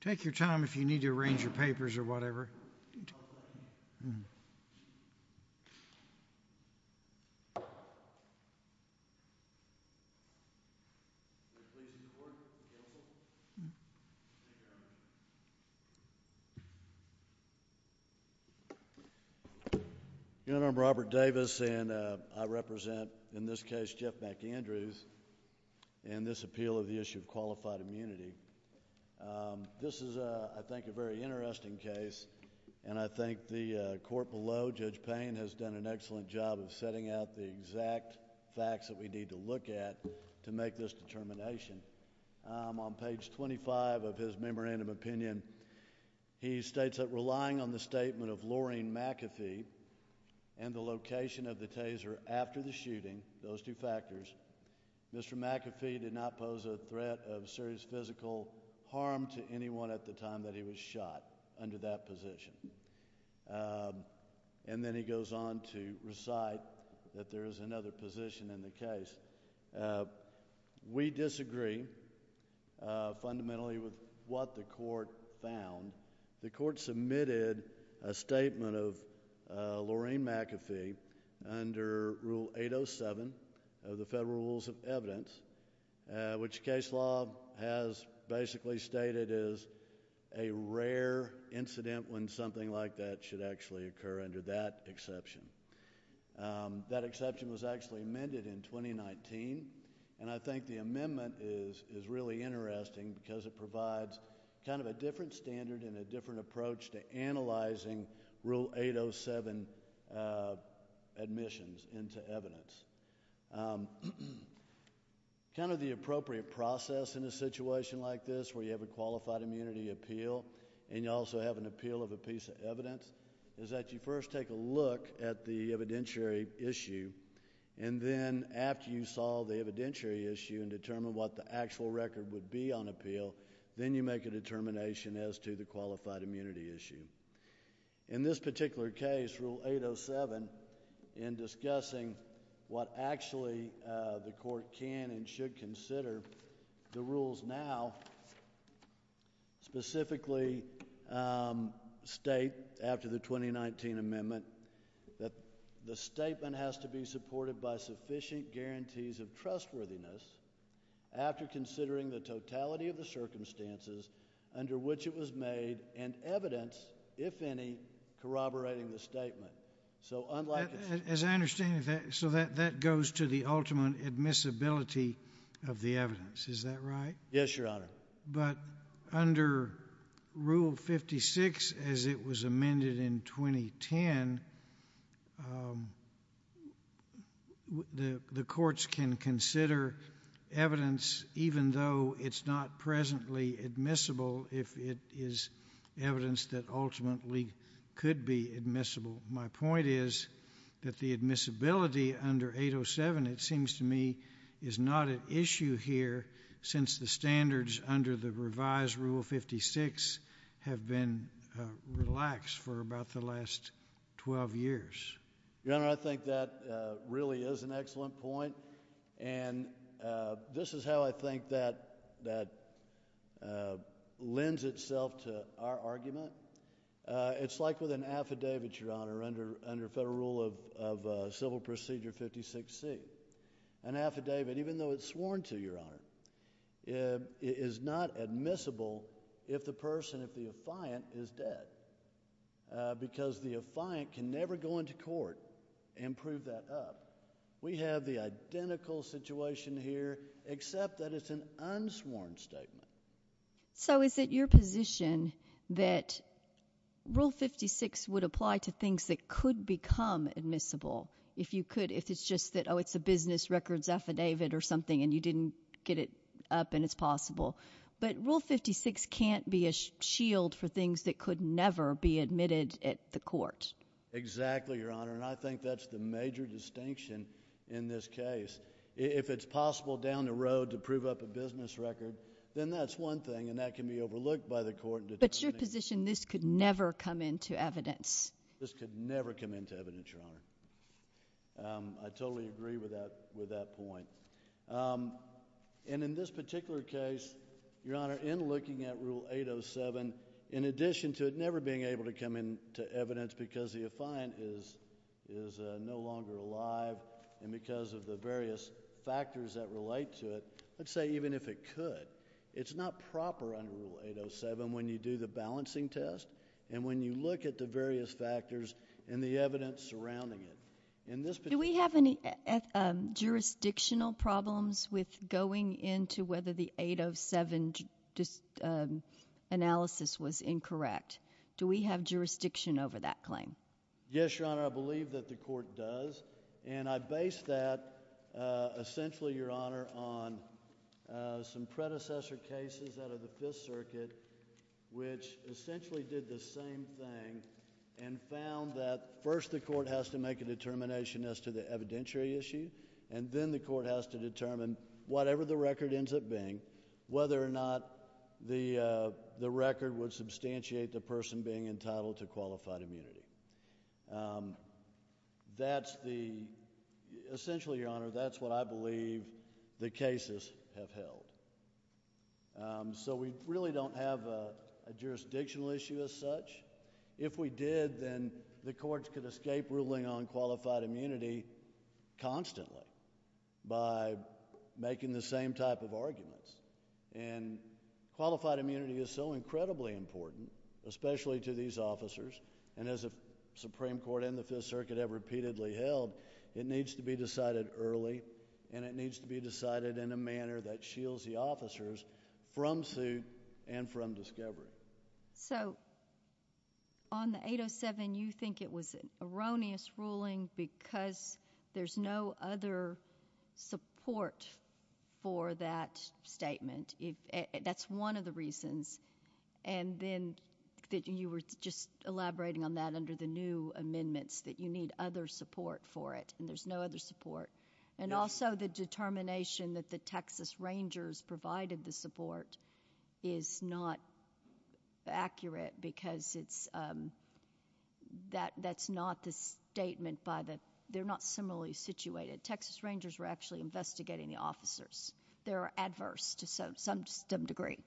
Take your time if you need to arrange your papers or whatever You know, I'm Robert Davis and I represent in this case Jeff McAndrews and this appeal of the issue of qualified immunity. This is, I think, a very interesting case and I think the court below, Judge Payne, has done an excellent job of setting out the exact facts that we need to look at to make this determination. On page 25 of his memorandum opinion, he states that relying on the statement of Lorraine McAfee and the location of the taser after the shooting, those two factors, Mr. McAfee did not pose a threat of serious physical harm to anyone at the time that he was shot under that position. And then he goes on to recite that there is another position in the case. We disagree fundamentally with what the court found. The court submitted a rule 807 of the Federal Rules of Evidence, which case law has basically stated is a rare incident when something like that should actually occur under that exception. That exception was actually amended in 2019 and I think the amendment is is really interesting because it provides kind of a different standard and a different approach to analyzing rule 807 admissions into evidence. Kind of the appropriate process in a situation like this where you have a qualified immunity appeal and you also have an appeal of a piece of evidence is that you first take a look at the evidentiary issue and then after you solve the evidentiary issue and determine what the actual record would be on appeal, then you make a determination as to the qualified immunity appeal. And I think that's a really interesting way to look at rule 807 in discussing what actually the court can and should consider. The rules now specifically state after the 2019 amendment that the statement has to be supported by sufficient guarantees of trustworthiness after considering the evidence. As I understand it, that goes to the ultimate admissibility of the evidence. Is that right? Yes, Your Honor. But under Rule 56, as it was amended in 2010, the courts can consider evidence even though it's not presently admissible if it is evidence that ultimately could be admissible. My point is that the admissibility under 807, it seems to me, is not an issue here since the standards under the revised Rule 56 have been relaxed for about the last 12 years. Your Honor, I think that really is an excellent point and this is how I think that lends itself to our argument. It's like with an affidavit, Your Honor, under federal rule of Civil Procedure 56C. An affidavit, even though it's sworn to, Your Honor, is not admissible if the person, if the affiant, is dead because the affiant can never go into court and prove that up. We have the identical situation here except that it's an unsworn statement. So is it your position that Rule 56 would apply to things that could become admissible if you could, if it's just that, oh, it's a business records affidavit or something and you didn't get it up and it's possible. But Rule 56 can't be a shield for things that could never be admitted at the court. Exactly, Your Honor, and I think that's the major distinction in this case. If it's possible down the road to prove up a business record, then that's one thing and that can be overlooked by the court. But it's your position this could never come into evidence. This could never come into evidence, Your Honor. I totally agree with that, with that point. And in this particular case, Your Honor, in looking at Rule 807, in addition to it never being able to come in to evidence because the affiant is no longer alive and because of the various factors that relate to it, let's say even if it could, it's not proper under Rule 807 when you do the balancing test and when you look at the various factors and the evidence surrounding it. Do we have any jurisdictional problems with going into whether the 807 analysis was incorrect? Do we have jurisdiction over that claim? Yes, Your Honor, so, to me, that's a very good question, and I think that's what the court has to do, what the court does, and I base that essentially, Your Honor, on some predecessor cases out of the Fifth Circuit which essentially did the same thing and found that first the court has to make a determination as to the evidentiary issue, and then the court has to determine whatever the record ends up being, whether or not the record would substantiate the person being entitled to qualified immunity. That's the, essentially, Your Honor, that's what I believe the cases have held. So we really don't have a jurisdictional issue as such. If we did, then the courts could escape ruling on qualified immunity constantly by making the same type of arguments, and qualified immunity is so incredibly important, especially to these officers, and as the Supreme Court and the Fifth Circuit have repeatedly held, it needs to be decided early, and it needs to be decided in a manner that shields the officers from suit and from There's no other support for that statement. That's one of the reasons, and then you were just elaborating on that under the new amendments, that you need other support for it, and there's no other support, and also the determination that the Texas Rangers provided the support is not accurate because that's not the statement by the, they're not similarly situated. Texas Rangers were actually investigating the officers. They're adverse to some degree.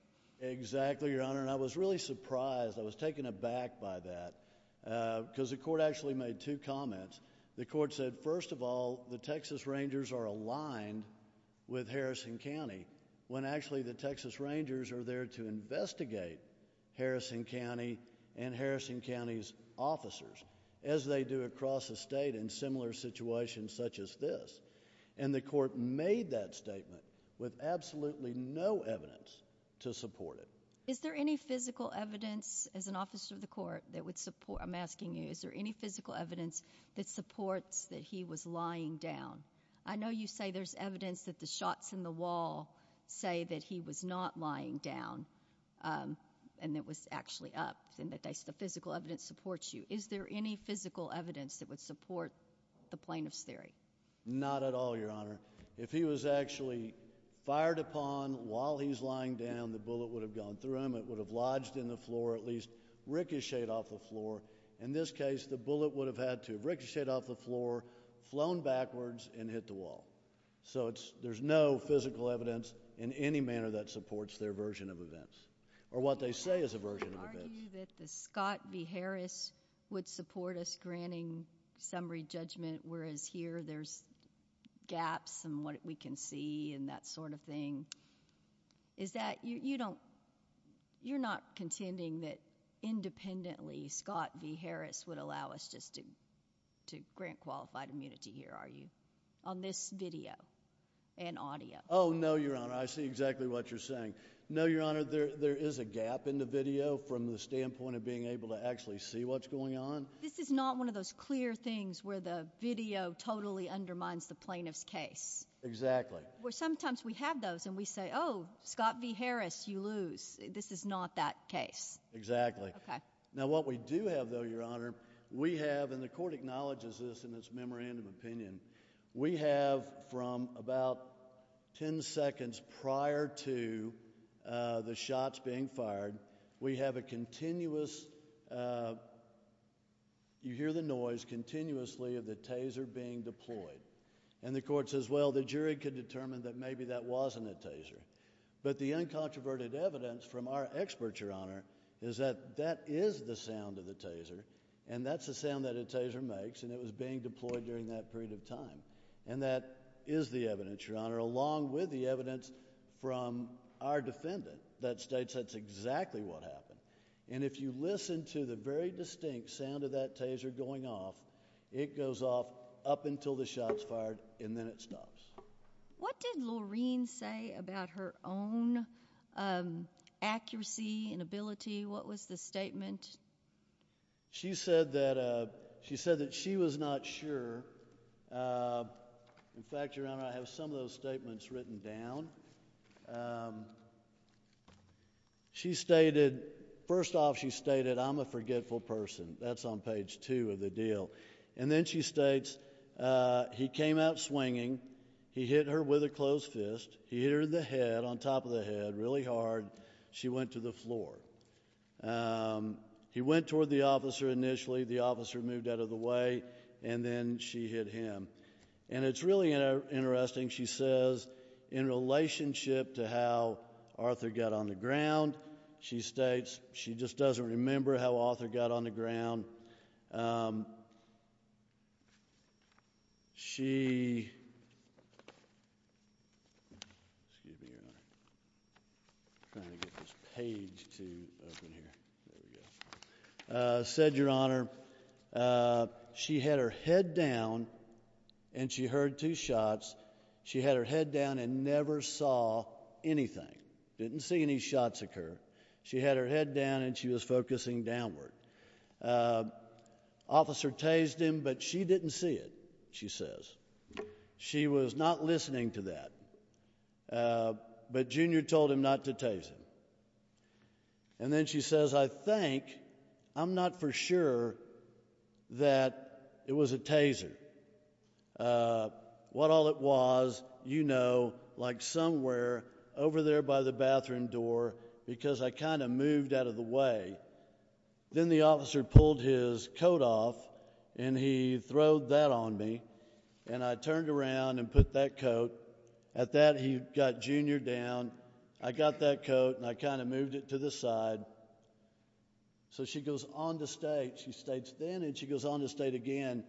Exactly, Your Honor, and I was really surprised. I was taken aback by that because the court actually made two comments. The court said, first of all, the Texas Rangers are aligned with Harrison County, when actually the Texas Rangers are there to investigate Harrison County and Harrison County's officers, as they do across the state in similar situations such as this, and the court made that statement with absolutely no evidence to support it. Is there any physical evidence, as an officer of the court, that would support, I'm asking you, is there any physical evidence that supports that he was lying down? I know you say there's evidence that the shots in the wall say that he was not lying down, and it was actually up, and that the physical evidence supports you. Is there any physical evidence that would support the plaintiff's theory? Not at all, Your Honor. If he was actually fired upon while he's lying down, the bullet would have gone through him. It would have lodged in the floor, at least ricocheted off the floor. In this case, the bullet would have had to ricochet off the floor, flown backwards, and hit the wall. So there's no physical evidence in any manner that supports their version of events, or what they say is a version of events. Would you argue that the Scott v. Harris would support us granting summary judgment, whereas here there's gaps in what we can see, and that sort of thing? Is that, you don't, you're not contending that independently, Scott v. Harris would allow us just to grant qualified immunity here, are you, on this video and audio? Oh, no, Your Honor. I see exactly what you're saying. No, Your Honor. There's a gap in the video from the standpoint of being able to actually see what's going on. This is not one of those clear things where the video totally undermines the plaintiff's case. Exactly. Well, sometimes we have those, and we say, oh, Scott v. Harris, you lose. This is not that case. Exactly. Okay. Now, what we do have, though, Your Honor, we have, and the court acknowledges this in its memorandum of opinion, we have from about 10 seconds prior to the shots being fired, we have a continuous, you hear the noise continuously of the Taser being deployed, and the court says, well, the jury could determine that maybe that wasn't a Taser, but the uncontroverted evidence from our experts, Your Honor, is that that is the sound of the Taser, and that's the sound that a Taser makes, and it was being fired in that period of time. And that is the evidence, Your Honor, along with the evidence from our defendant that states that's exactly what happened. And if you listen to the very distinct sound of that Taser going off, it goes off up until the shots fired, and then it stops. What did Laureen say about her own accuracy and accuracy? In fact, Your Honor, I have some of those statements written down. She stated, first off, she stated, I'm a forgetful person. That's on page two of the deal. And then she states, he came out swinging. He hit her with a closed fist. He hit her in the head, on top of the head, really hard. She went to the floor. He went toward the officer initially. The officer moved out of the way, and then she hit him. And it's really interesting, she says, in relationship to how Arthur got on the ground, she states she just doesn't remember how Arthur got on the ground. She, excuse me, Your Honor, I'm trying to get this page to open here, there we go, said, Your Honor, she had her head down, and she heard two shots. She had her head down and never saw anything, didn't see any shots occur. She had her head down, and she was focusing downward. Officer tased him, but she didn't see it, she says. She was not listening to that, but Junior told him not to tase him. And then she says, I think, I'm not for sure that it was a taser. What all it was, you know, like somewhere over there by the bathroom door, because I kind of moved out of the way. Then the officer pulled his coat off, and he throwed that on me, and I turned around and put that coat. At that, he got Junior down. I got that coat, and I kind of moved to the side. So she goes on to state, she states then, and she goes on to state again,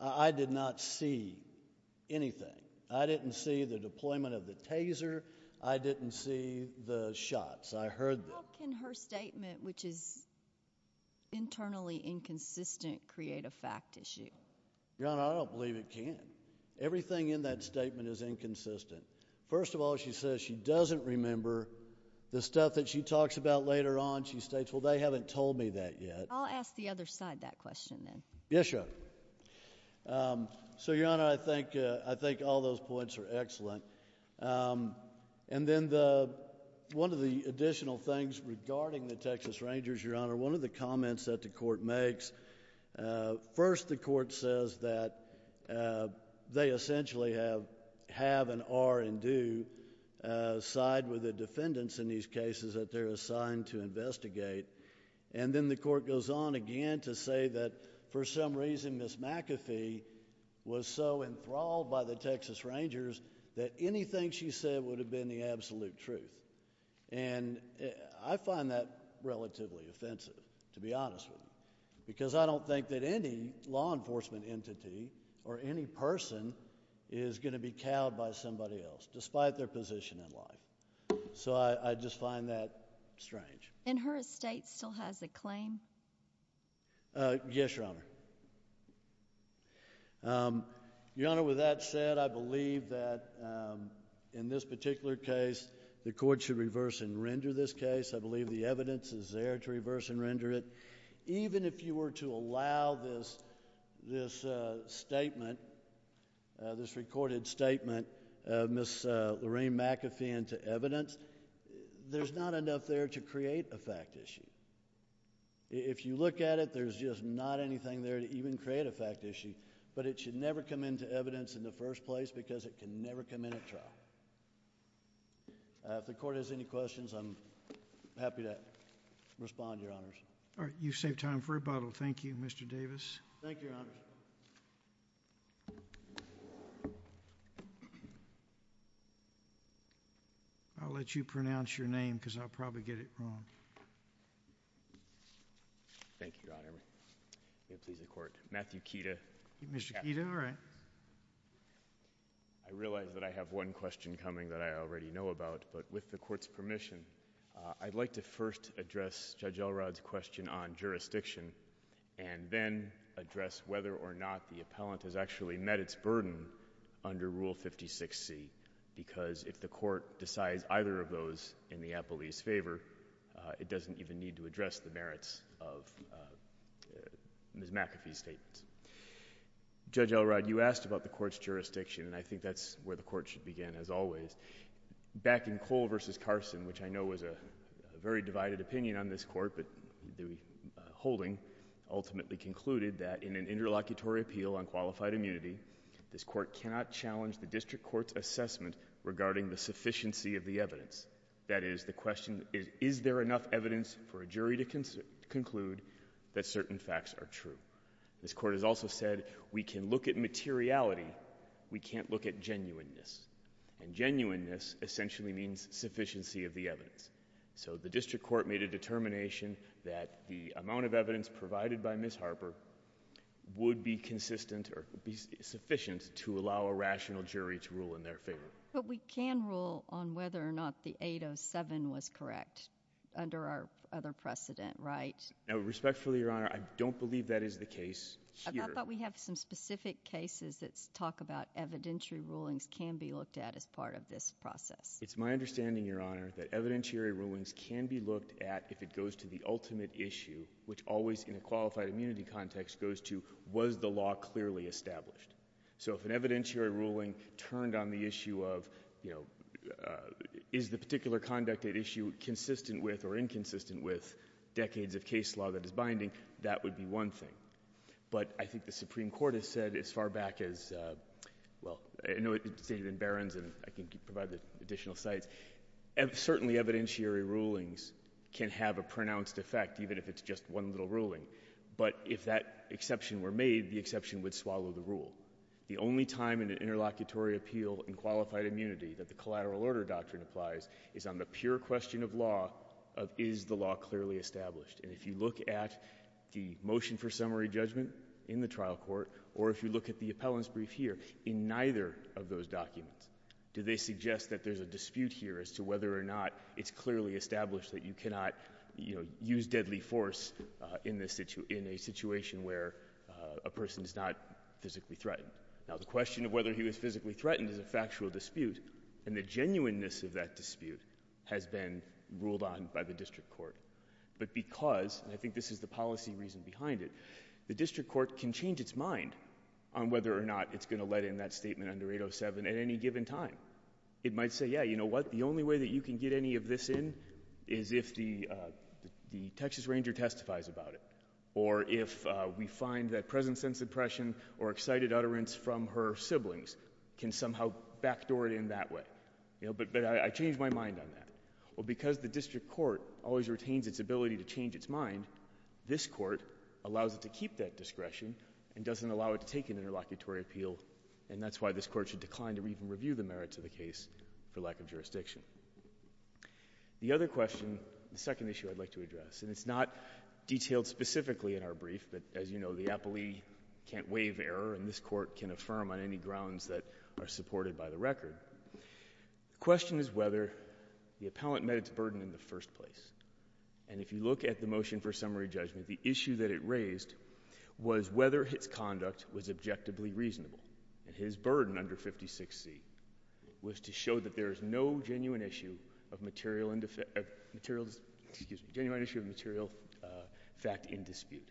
I did not see anything. I didn't see the deployment of the taser. I didn't see the shots. I heard them. How can her statement, which is internally inconsistent, create a fact issue? Your Honor, I don't believe it can. Everything in that statement is inconsistent. First of all, she says she doesn't remember the stuff that she talks about later on. She states, well, they haven't told me that yet. I'll ask the other side that question then. Yes, Your Honor. So, Your Honor, I think, I think all those points are excellent. And then the, one of the additional things regarding the Texas Rangers, Your Honor, one of the comments that the court makes, first the court says that they essentially have, have, and are, and do side with the defendants in these cases that they're assigned to investigate. And then the court goes on again to say that, for some reason, Ms. McAfee was so enthralled by the Texas Rangers that anything she said would have been the absolute truth. And I find that relatively offensive, to be honest with you, because I don't think that any law enforcement entity or any person is going to be cowed by somebody else, despite their position in life. So, I just find that strange. And her estate still has a claim? Yes, Your Honor. Your Honor, with that said, I believe that in this particular case, the court should reverse and render this case. I believe the court should allow this, this statement, this recorded statement of Ms. Lorraine McAfee into evidence. There's not enough there to create a fact issue. If you look at it, there's just not anything there to even create a fact issue. But it should never come into evidence in the first place because it can never come in at trial. If the court has any questions, I'm happy to respond, Your Honors. All right. Thank you, Mr. Davis. Thank you, Your Honors. I'll let you pronounce your name because I'll probably get it wrong. Thank you, Your Honor. May it please the Court. Matthew Keita. Mr. Keita, all right. I realize that I have one question coming that I already know about, but with the Court's permission, I'd like to address whether or not the appellant has actually met its burden under Rule 56C because if the Court decides either of those in the appellee's favor, it doesn't even need to address the merits of Ms. McAfee's statements. Judge Elrod, you asked about the Court's jurisdiction, and I think that's where the Court should begin, as always. Back in Cole v. Carson, which I know was a very divided opinion on this Court, but the holding ultimately concluded that in an interlocutory appeal on qualified immunity, this Court cannot challenge the District Court's assessment regarding the sufficiency of the evidence. That is, the question is, is there enough evidence for a jury to conclude that certain facts are true? This Court has also said we can look at materiality. We can't look at genuineness, and genuineness essentially means sufficiency of the evidence. So the District Court made a determination that the amount of evidence provided by Ms. Harper would be consistent or be sufficient to allow a rational jury to rule in their favor. But we can rule on whether or not the 807 was correct under our other precedent, right? Now, respectfully, Your Honor, I don't believe that is the case. I thought we have some specific cases that talk about evidentiary rulings can be looked at as part of this process. It's my understanding, Your Honor, that evidentiary rulings can be looked at if it goes to the ultimate issue, which always in a qualified immunity context goes to, was the law clearly established? So if an evidentiary ruling turned on the issue of, you know, is the particular conduct at issue consistent with or inconsistent with decades of case law that is binding, that would be one thing. But I think the Supreme Court has said as far back as, well, I know it's stated in Barron's and I can provide the additional sites. Certainly evidentiary rulings can have a pronounced effect, even if it's just one little ruling. But if that exception were made, the exception would swallow the rule. The only time in an interlocutory appeal in qualified immunity that the collateral order doctrine applies is on the pure question of law, of is the law clearly established. And if you look at the motion for summary judgment in the motion here, in neither of those documents do they suggest that there's a dispute here as to whether or not it's clearly established that you cannot, you know, use deadly force in a situation where a person is not physically threatened. Now the question of whether he was physically threatened is a factual dispute, and the genuineness of that dispute has been ruled on by the district court. But because, and I think this is the policy reason behind it, the district court is not going to let in that statement under 807 at any given time. It might say, yeah, you know what, the only way that you can get any of this in is if the Texas Ranger testifies about it, or if we find that present sense impression or excited utterance from her siblings can somehow backdoor it in that way. You know, but I changed my mind on that. Well, because the district court always retains its ability to change its mind, this court allows it to keep that appeal, and that's why this court should decline to even review the merits of the case for lack of jurisdiction. The other question, the second issue I'd like to address, and it's not detailed specifically in our brief, but as you know, the appellee can't waive error and this court can affirm on any grounds that are supported by the record. The question is whether the appellant met its burden in the first place, and if you look at the motion for summary judgment, the issue that it raised was whether its conduct was objectively reasonable, and his burden under 56C was to show that there is no genuine issue of material and material, excuse me, genuine issue of material fact in dispute,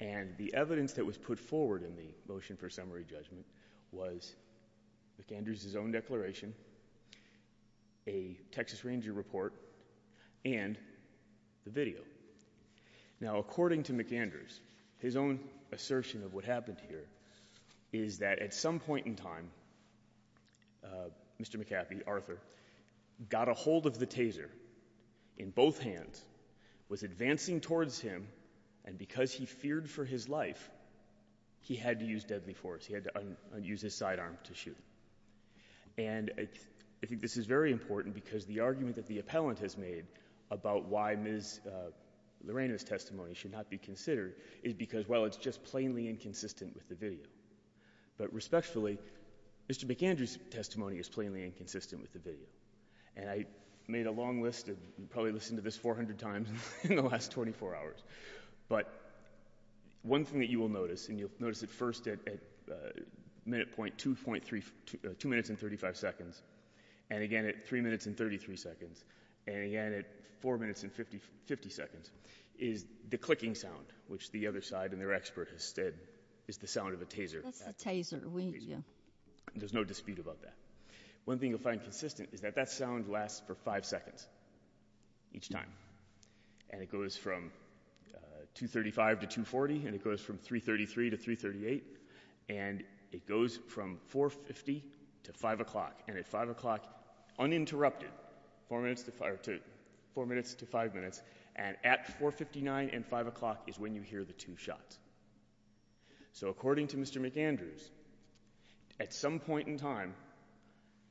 and the evidence that was put forward in the motion for summary judgment was McAndrews' own Now, according to McAndrews, his own assertion of what happened here is that at some point in time, Mr. McAfee, Arthur, got a hold of the taser in both hands, was advancing towards him, and because he feared for his life, he had to use deadly force. He had to use his sidearm to shoot, and I think this is very important because the argument that the appellant has made about why Ms. Lorena's testimony should not be considered is because, well, it's just plainly inconsistent with the video, but respectfully, Mr. McAndrews' testimony is plainly inconsistent with the video, and I made a long list of, probably listened to this 400 times in the last 24 hours, but one thing that you will notice, and you'll notice it first at minute point 2.3, 2 minutes and 35 seconds, and again at 3 minutes and 50 seconds, is the clicking sound, which the other side and their expert has said is the sound of a taser. That's a taser, yeah. There's no dispute about that. One thing you'll find consistent is that that sound lasts for five seconds each time, and it goes from 2.35 to 2.40, and it goes from 3.33 to 3.38, and it goes from 4.50 to 5 o'clock, and at 5 o'clock, uninterrupted, 4 minutes to 5 minutes, and at 4.59 and 5 o'clock is when you hear the two shots. So according to Mr. McAndrews, at some point in time,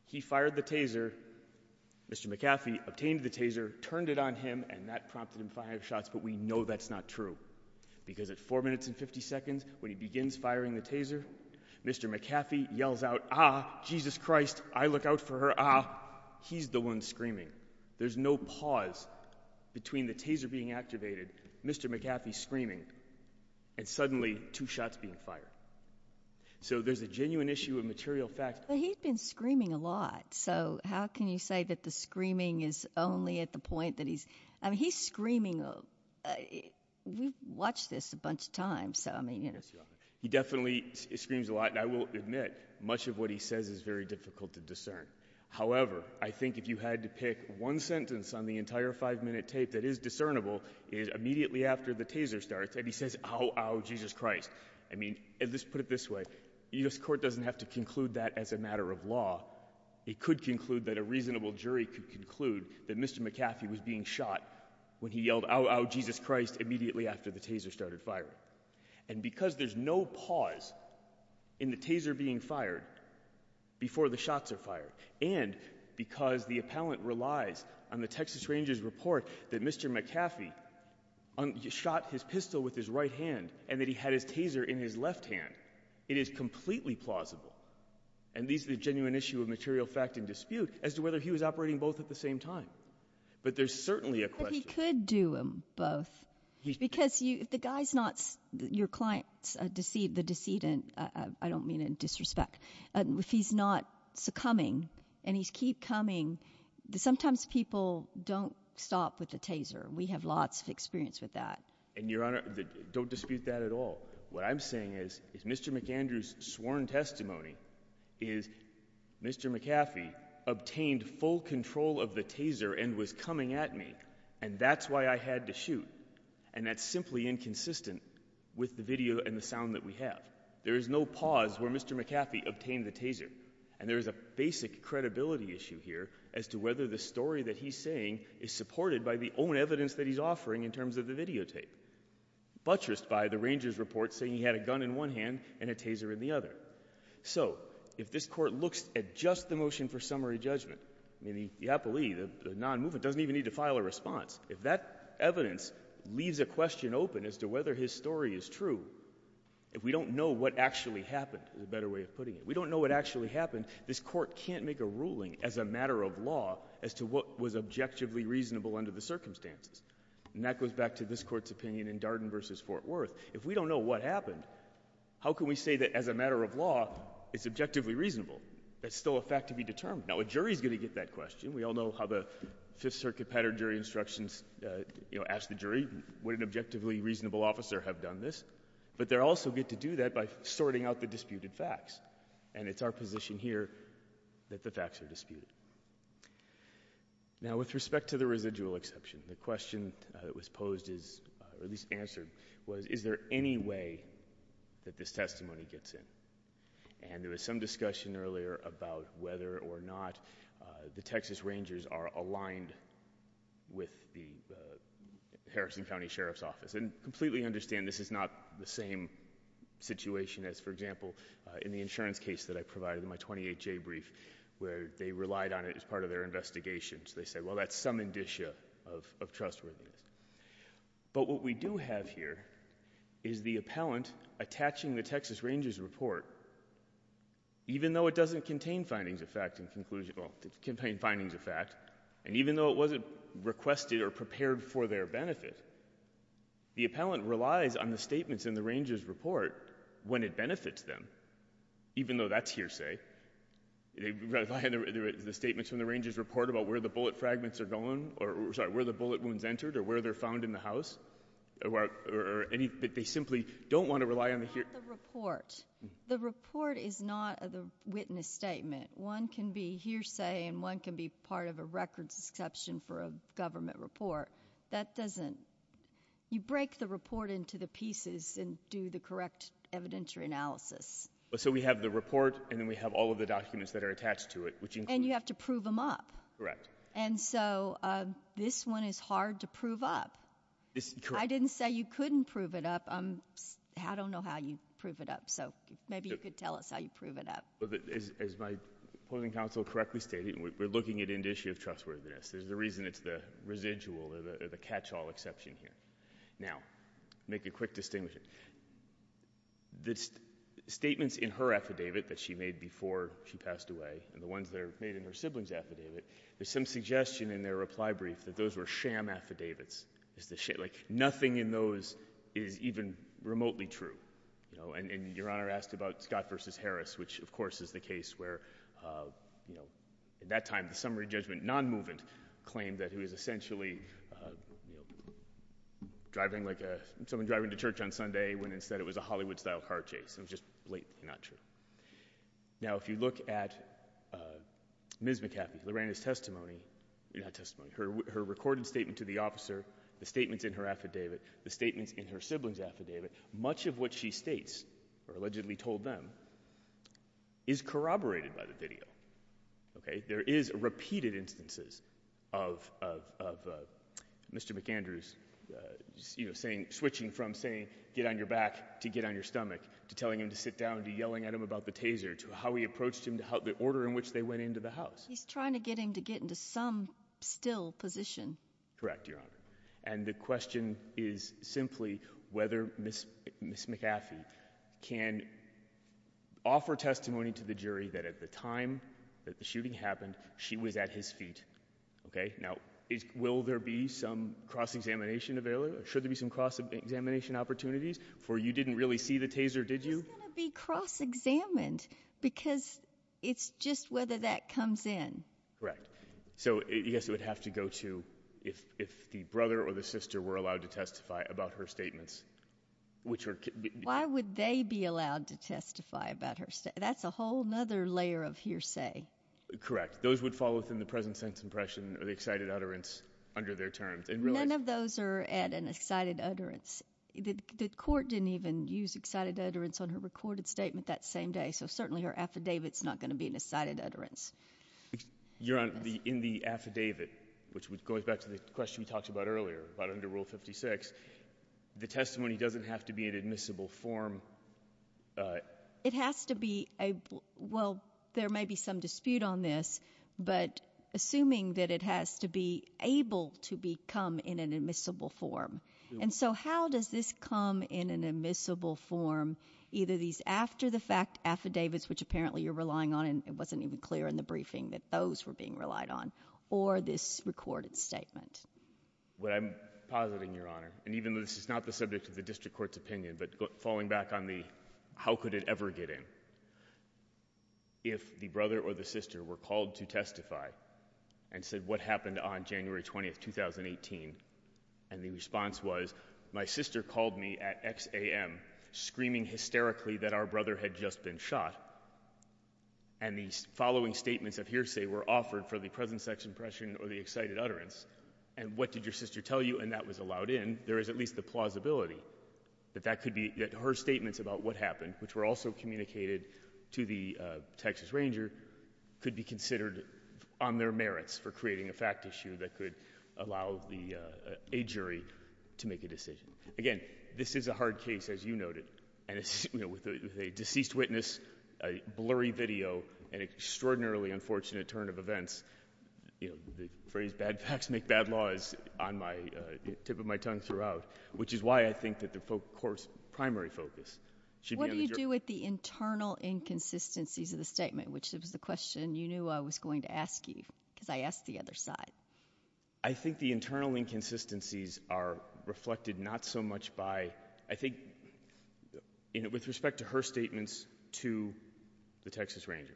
he fired the taser, Mr. McAfee obtained the taser, turned it on him, and that prompted him five shots, but we know that's not true, because at 4 minutes and 50 seconds, when he begins firing the taser, Mr. McAfee yells out, ah, Jesus Christ, I look out for her, ah, he's the one screaming. There's no pause between the taser being activated, Mr. McAfee screaming, and suddenly two shots being fired. So there's a genuine issue of material fact. But he's been screaming a lot, so how can you say that the screaming is only at the point that he's, I mean, he's screaming, we've watched this a bunch of times, so I mean. He definitely screams a lot, and I will admit, much of what he says is very difficult to discern. However, I think if you had to pick one sentence on the entire five-minute tape that is discernible, it is immediately after the taser starts, and he says, ow, ow, Jesus Christ. I mean, let's put it this way, the U.S. Court doesn't have to conclude that as a matter of law. It could conclude that a reasonable jury could conclude that Mr. McAfee was being shot when he yelled, ow, ow, Jesus Christ, immediately after the taser started firing. And because there's no pause in the taser being fired, before the shots are fired, and because the appellant relies on the Texas Rangers report that Mr. McAfee shot his pistol with his right hand, and that he had his taser in his left hand, it is completely plausible, and these are the genuine issue of material fact and dispute, as to whether he was operating both at the same time. But there's certainly a question. But he could do them both, because you, the guy's not, your client's a deceit, the decedent, I don't mean in disrespect, if he's not succumbing, and he's keep coming, sometimes people don't stop with the taser. We have lots of experience with that. And Your Honor, don't dispute that at all. What I'm saying is, is Mr. McAndrew's sworn testimony is, Mr. McAfee obtained full control of the taser and was coming at me, and that's why I had to be consistent with the video and the sound that we have. There is no pause where Mr. McAfee obtained the taser. And there is a basic credibility issue here, as to whether the story that he's saying is supported by the own evidence that he's offering in terms of the videotape, buttressed by the Rangers report saying he had a gun in one hand and a taser in the other. So, if this Court looks at just the motion for summary judgment, I mean, the appellee, the non-movement, doesn't even need to file a response. If that evidence leaves a question open as to whether his story is true, if we don't know what actually happened, is a better way of putting it, we don't know what actually happened, this Court can't make a ruling as a matter of law as to what was objectively reasonable under the circumstances. And that goes back to this Court's opinion in Darden v. Fort Worth. If we don't know what happened, how can we say that as a matter of law, it's objectively reasonable? That's still a fact to be determined. Now, a jury's gonna get that question. We all know how the Fifth Circuit pattern jury instructions, you know, ask the jury, would an objectively reasonable officer have done this? But they also get to do that by sorting out the disputed facts. And it's our position here that the facts are disputed. Now, with respect to the residual exception, the question that was posed is, or at least answered, was, is there any way that this testimony gets in? And there was some discussion earlier about whether or not the Texas Rangers are aligned with the Harrison County Sheriff's Office. And completely understand, this is not the same situation as, for example, in the insurance case that I provided in my 28-J brief, where they relied on it as part of their investigation. So they said, well, that's some indicia of trustworthiness. But what we do have here is the campaign findings of fact, and even though it wasn't requested or prepared for their benefit, the appellant relies on the statements in the Rangers' report when it benefits them, even though that's hearsay. They rely on the statements from the Rangers' report about where the bullet fragments are going, or sorry, where the bullet wounds entered, or where they're found in the house, or any, but they simply don't want to rely on the hearsay. But what about the report? The report is not a witness statement. One can be hearsay, and one can be part of a records exception for a government report. That doesn't, you break the report into the pieces and do the correct evidentiary analysis. So we have the report, and then we have all of the documents that are attached to it, which include. And you have to prove them up. Correct. And so this one is hard to prove up. I didn't say you couldn't prove it up. I don't know how you prove it up. So maybe you could tell us how you prove it up. As my opposing counsel correctly stated, we're looking at an issue of trustworthiness. There's a reason it's the residual or the catch-all exception here. Now, make a quick distinction. The statements in her affidavit that she made before she passed away and the ones that are made in her sibling's affidavit, there's some suggestion in their reply brief that those were sham affidavits. Nothing in those is even remotely true. And Your Honor asked about Scott v. Harris, which of course is the case where at that time the summary judgment non-movement claimed that he was essentially someone driving to church on Sunday when instead it was a Hollywood-style car chase. It was just blatantly not true. Now, if you look at Ms. McCaffey, Lorraine's testimony, her recorded statement to the officer, the statements in her affidavit, the statements in her sibling's affidavit, much of what she states or allegedly told them is corroborated by the video. There is repeated instances of Mr. McAndrews switching from saying, get on your back, to get on your stomach, to telling him to sit down, to yelling at him about the taser, to how he approached him, the order in which they went into the house. He's trying to get him to get into some still position. Correct, Your Honor. And the question is simply whether Ms. McCaffey can offer testimony to the jury that at the time that the shooting happened, she was at his feet. Okay? Now, will there be some cross-examination available? Should there be some cross-examination opportunities? For you didn't really see the taser, did you? It's going to be cross-examined because it's just whether that comes in. Correct. So, yes, it would have to go to if the brother or the sister were allowed to testify about her statements, which are... Why would they be allowed to testify about her statements? That's a whole other layer of hearsay. Correct. Those would fall within the present sense impression or the excited utterance under their terms. None of those are at an excited utterance. The court didn't even use excited utterance on her recorded statement that same day, so certainly her affidavit's not going to be an excited utterance. Your Honor, in the affidavit, which goes back to the question we talked about earlier about under Rule 56, the testimony doesn't have to be an admissible form. It has to be a... Well, there may be some dispute on this, but assuming that it has to be able to come in an admissible form. And so, how does this come in an admissible form, either these after-the-fact affidavits, which apparently you're relying on, and it wasn't even clear in the briefing that those were being relied on, or this recorded statement? What I'm positing, Your Honor, and even though this is not the subject of the district court's opinion, but falling back on the how could it ever get in, if the brother or the sister were and the response was, my sister called me at X a.m., screaming hysterically that our brother had just been shot, and the following statements of hearsay were offered for the present sex impression or the excited utterance, and what did your sister tell you, and that was allowed in, there is at least the plausibility that that could be... That her statements about what happened, which were also communicated to the Texas Ranger, could be considered on their merits for creating a fact issue that could allow a jury to make a decision. Again, this is a hard case, as you noted, and it's, you know, with a deceased witness, a blurry video, and extraordinarily unfortunate turn of events, you know, the phrase, bad facts make bad laws, on my tip of my tongue throughout, which is why I think that the court's primary focus should be on the jury. What do you do with the internal inconsistencies of the statement, which was the question you knew I was going to ask you, because I asked the other side? I think the internal inconsistencies are reflected not so much by, I think, you know, with respect to her statements to the Texas Ranger.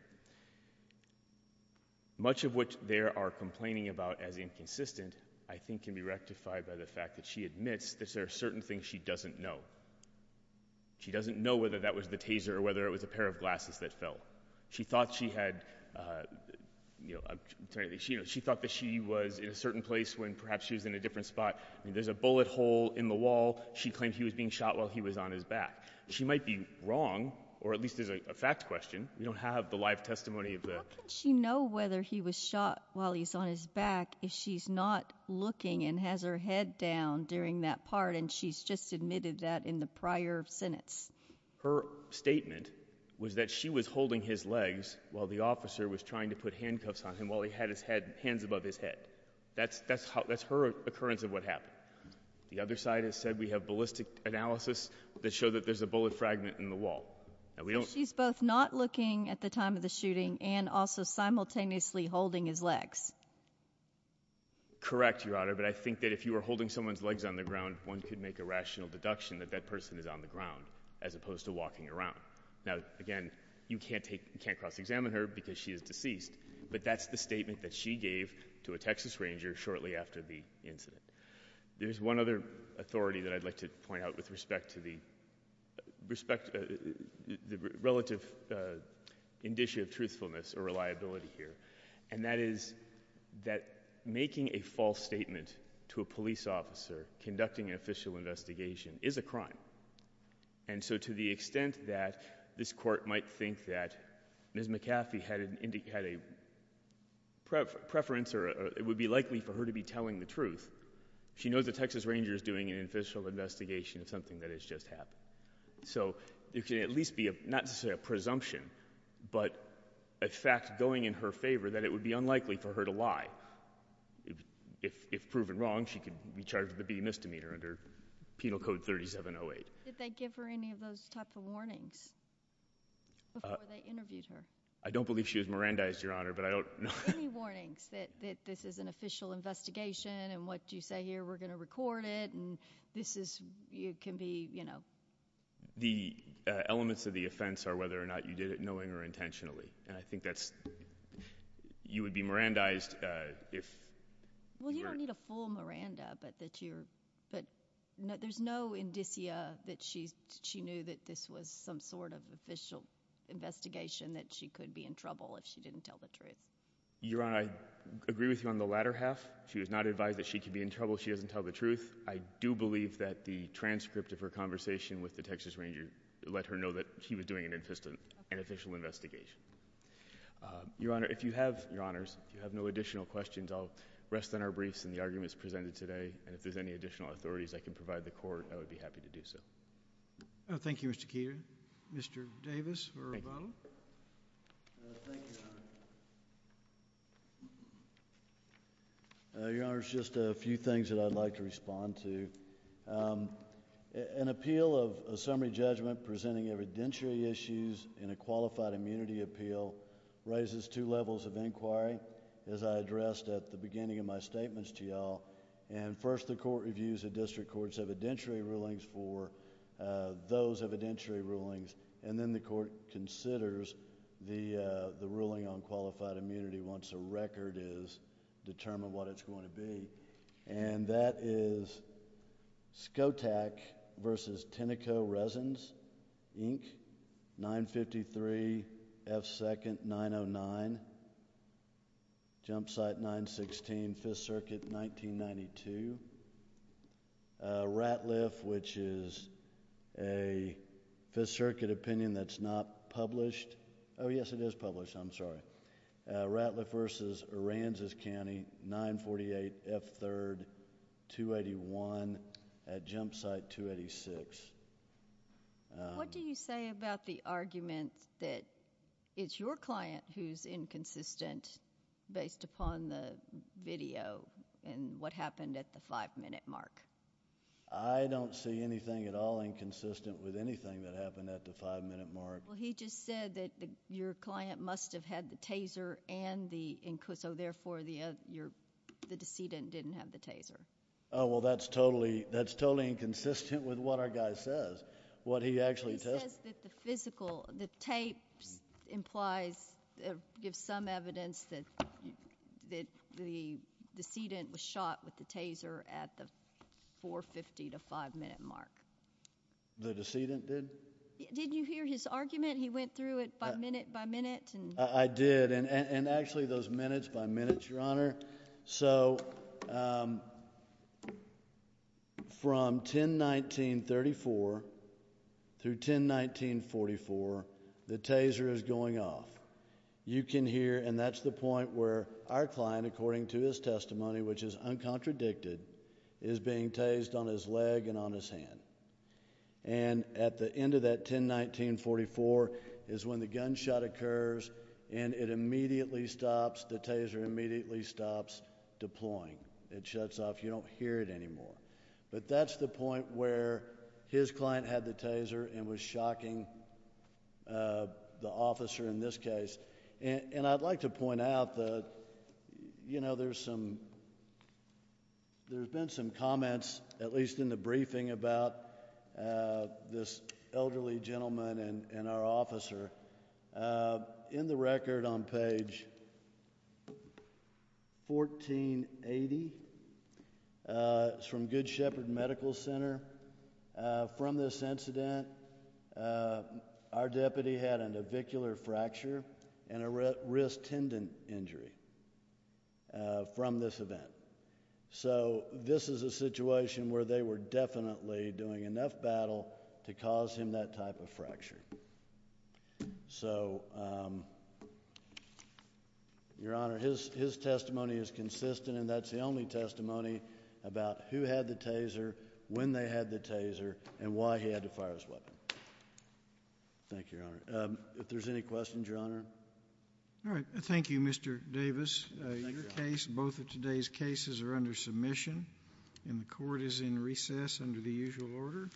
Much of what they are complaining about as inconsistent, I think, can be rectified by the fact that she admits that there are certain things she doesn't know. She doesn't know whether that was the taser or whether it was a pair of gloves. She thought that she was in a certain place when perhaps she was in a different spot. There's a bullet hole in the wall. She claimed he was being shot while he was on his back. She might be wrong, or at least it's a fact question. We don't have the live testimony of that. How can she know whether he was shot while he's on his back if she's not looking and has her head down during that part, and she's just admitted that in the prior sentence? Her statement was that she was holding his legs while the officer was trying to put handcuffs on him while he had his hands above his head. That's her occurrence of what happened. The other side has said we have ballistic analysis that show that there's a bullet fragment in the wall. She's both not looking at the time of the shooting and also simultaneously holding his legs. Correct, Your Honor, but I think that if you were holding someone's legs on the ground, one could make a rational deduction that that person is on the ground as opposed to walking around. Now, again, you can't cross-examine her because she is deceased, but that's the statement that she gave to a Texas Ranger shortly after the incident. There's one other authority that I'd like to point out with respect to the relative indicia of truthfulness or reliability here, and that is that making a false statement to a police officer conducting an official investigation is a crime, and so to the extent that this Court might think that Ms. McCaffey had a preference or it would be likely for her to be telling the truth, she knows the Texas Ranger is doing an official investigation of something that has just happened, so it can at least be not to say a presumption, but a fact going in her favor that it would be unlikely for her to lie. If proven wrong, she could be charged with a beating misdemeanor under Penal Code 3708. Did they give her any of those type of warnings before they interviewed her? I don't believe she was Mirandized, Your Honor, but I don't know. Any warnings that this is an official investigation and what you say here, we're going to record it, and this is, it can be, you know. The elements of the offense are whether or not you did it knowing or intentionally, and I think that's, you would be Mirandized if. Well, you don't need a full Miranda, but that you're, but there's no indicia that she knew that this was some sort of official investigation that she could be in trouble if she didn't tell the truth. Your Honor, I agree with you on the latter half. She was not advised that she could be in trouble if she doesn't tell the truth. I do believe that the transcript of her conversation with the Texas Ranger let her know that he was doing an official investigation. Your Honor, if you have, Your Honors, if you have no additional questions, I'll rest on our briefs and the arguments presented today, and if there's any additional authorities I can provide the Court, I would be happy to do so. Thank you, Mr. Keeter. Mr. Davis or Rebano? Thank you, Your Honor. Your Honor, just a few things that I'd like to respond to. An appeal of a summary judgment presenting evidentiary issues in a qualified immunity appeal raises two levels of inquiry, as I addressed at the beginning of my statements to y'all, and first the Court reviews the District Court's evidentiary rulings for those evidentiary rulings, and then the Court considers the ruling on qualified immunity once a record is determined, what it's going to be, and that is Skotak v. Tenneco Resins, Inc., 953 F. 2nd, 909, 981. Jumpsite 916, 5th Circuit, 1992. Ratliff, which is a 5th Circuit opinion that's not published, oh, yes, it is published, I'm sorry. Ratliff v. Aransas County, 948 F. 3rd, 281, at Jumpsite 286. What do you say about the argument that it's your client who's inconsistent based upon the video and what happened at the five-minute mark? I don't see anything at all inconsistent with anything that happened at the five-minute mark. Well, he just said that your client must have had the taser and the, so therefore, the decedent didn't have the taser. Oh, well, that's totally inconsistent with what our guy says, what he actually testified. It says that the physical, the tape implies, gives some evidence that the decedent was shot with the taser at the 450 to five-minute mark. The decedent did? Did you hear his argument? He went through it by minute by minute? I did, and actually, those minutes by minutes, Your Honor. So, from 10-19-34 through 10-19-44, the taser is going off. You can hear, and that's the point where our client, according to his testimony, which is uncontradicted, is being tased on his and it immediately stops. The taser immediately stops deploying. It shuts off. You don't hear it anymore, but that's the point where his client had the taser and was shocking the officer in this case, and I'd like to point out that, you know, there's some, there's been some comments, at least in the briefing, about this elderly gentleman and our officer. In the record on page 1480, it's from Good Shepherd Medical Center, from this incident, our deputy had an avicular fracture and a wrist tendon injury from this event. So, this is a situation where they were definitely doing enough battle to cause him that type of injury. So, Your Honor, his testimony is consistent, and that's the only testimony about who had the taser, when they had the taser, and why he had to fire his weapon. Thank you, Your Honor. If there's any questions, Your Honor. All right. Thank you, Mr. Davis. Both of today's cases are under submission, and the Court is in recess under the usual order. Thank you.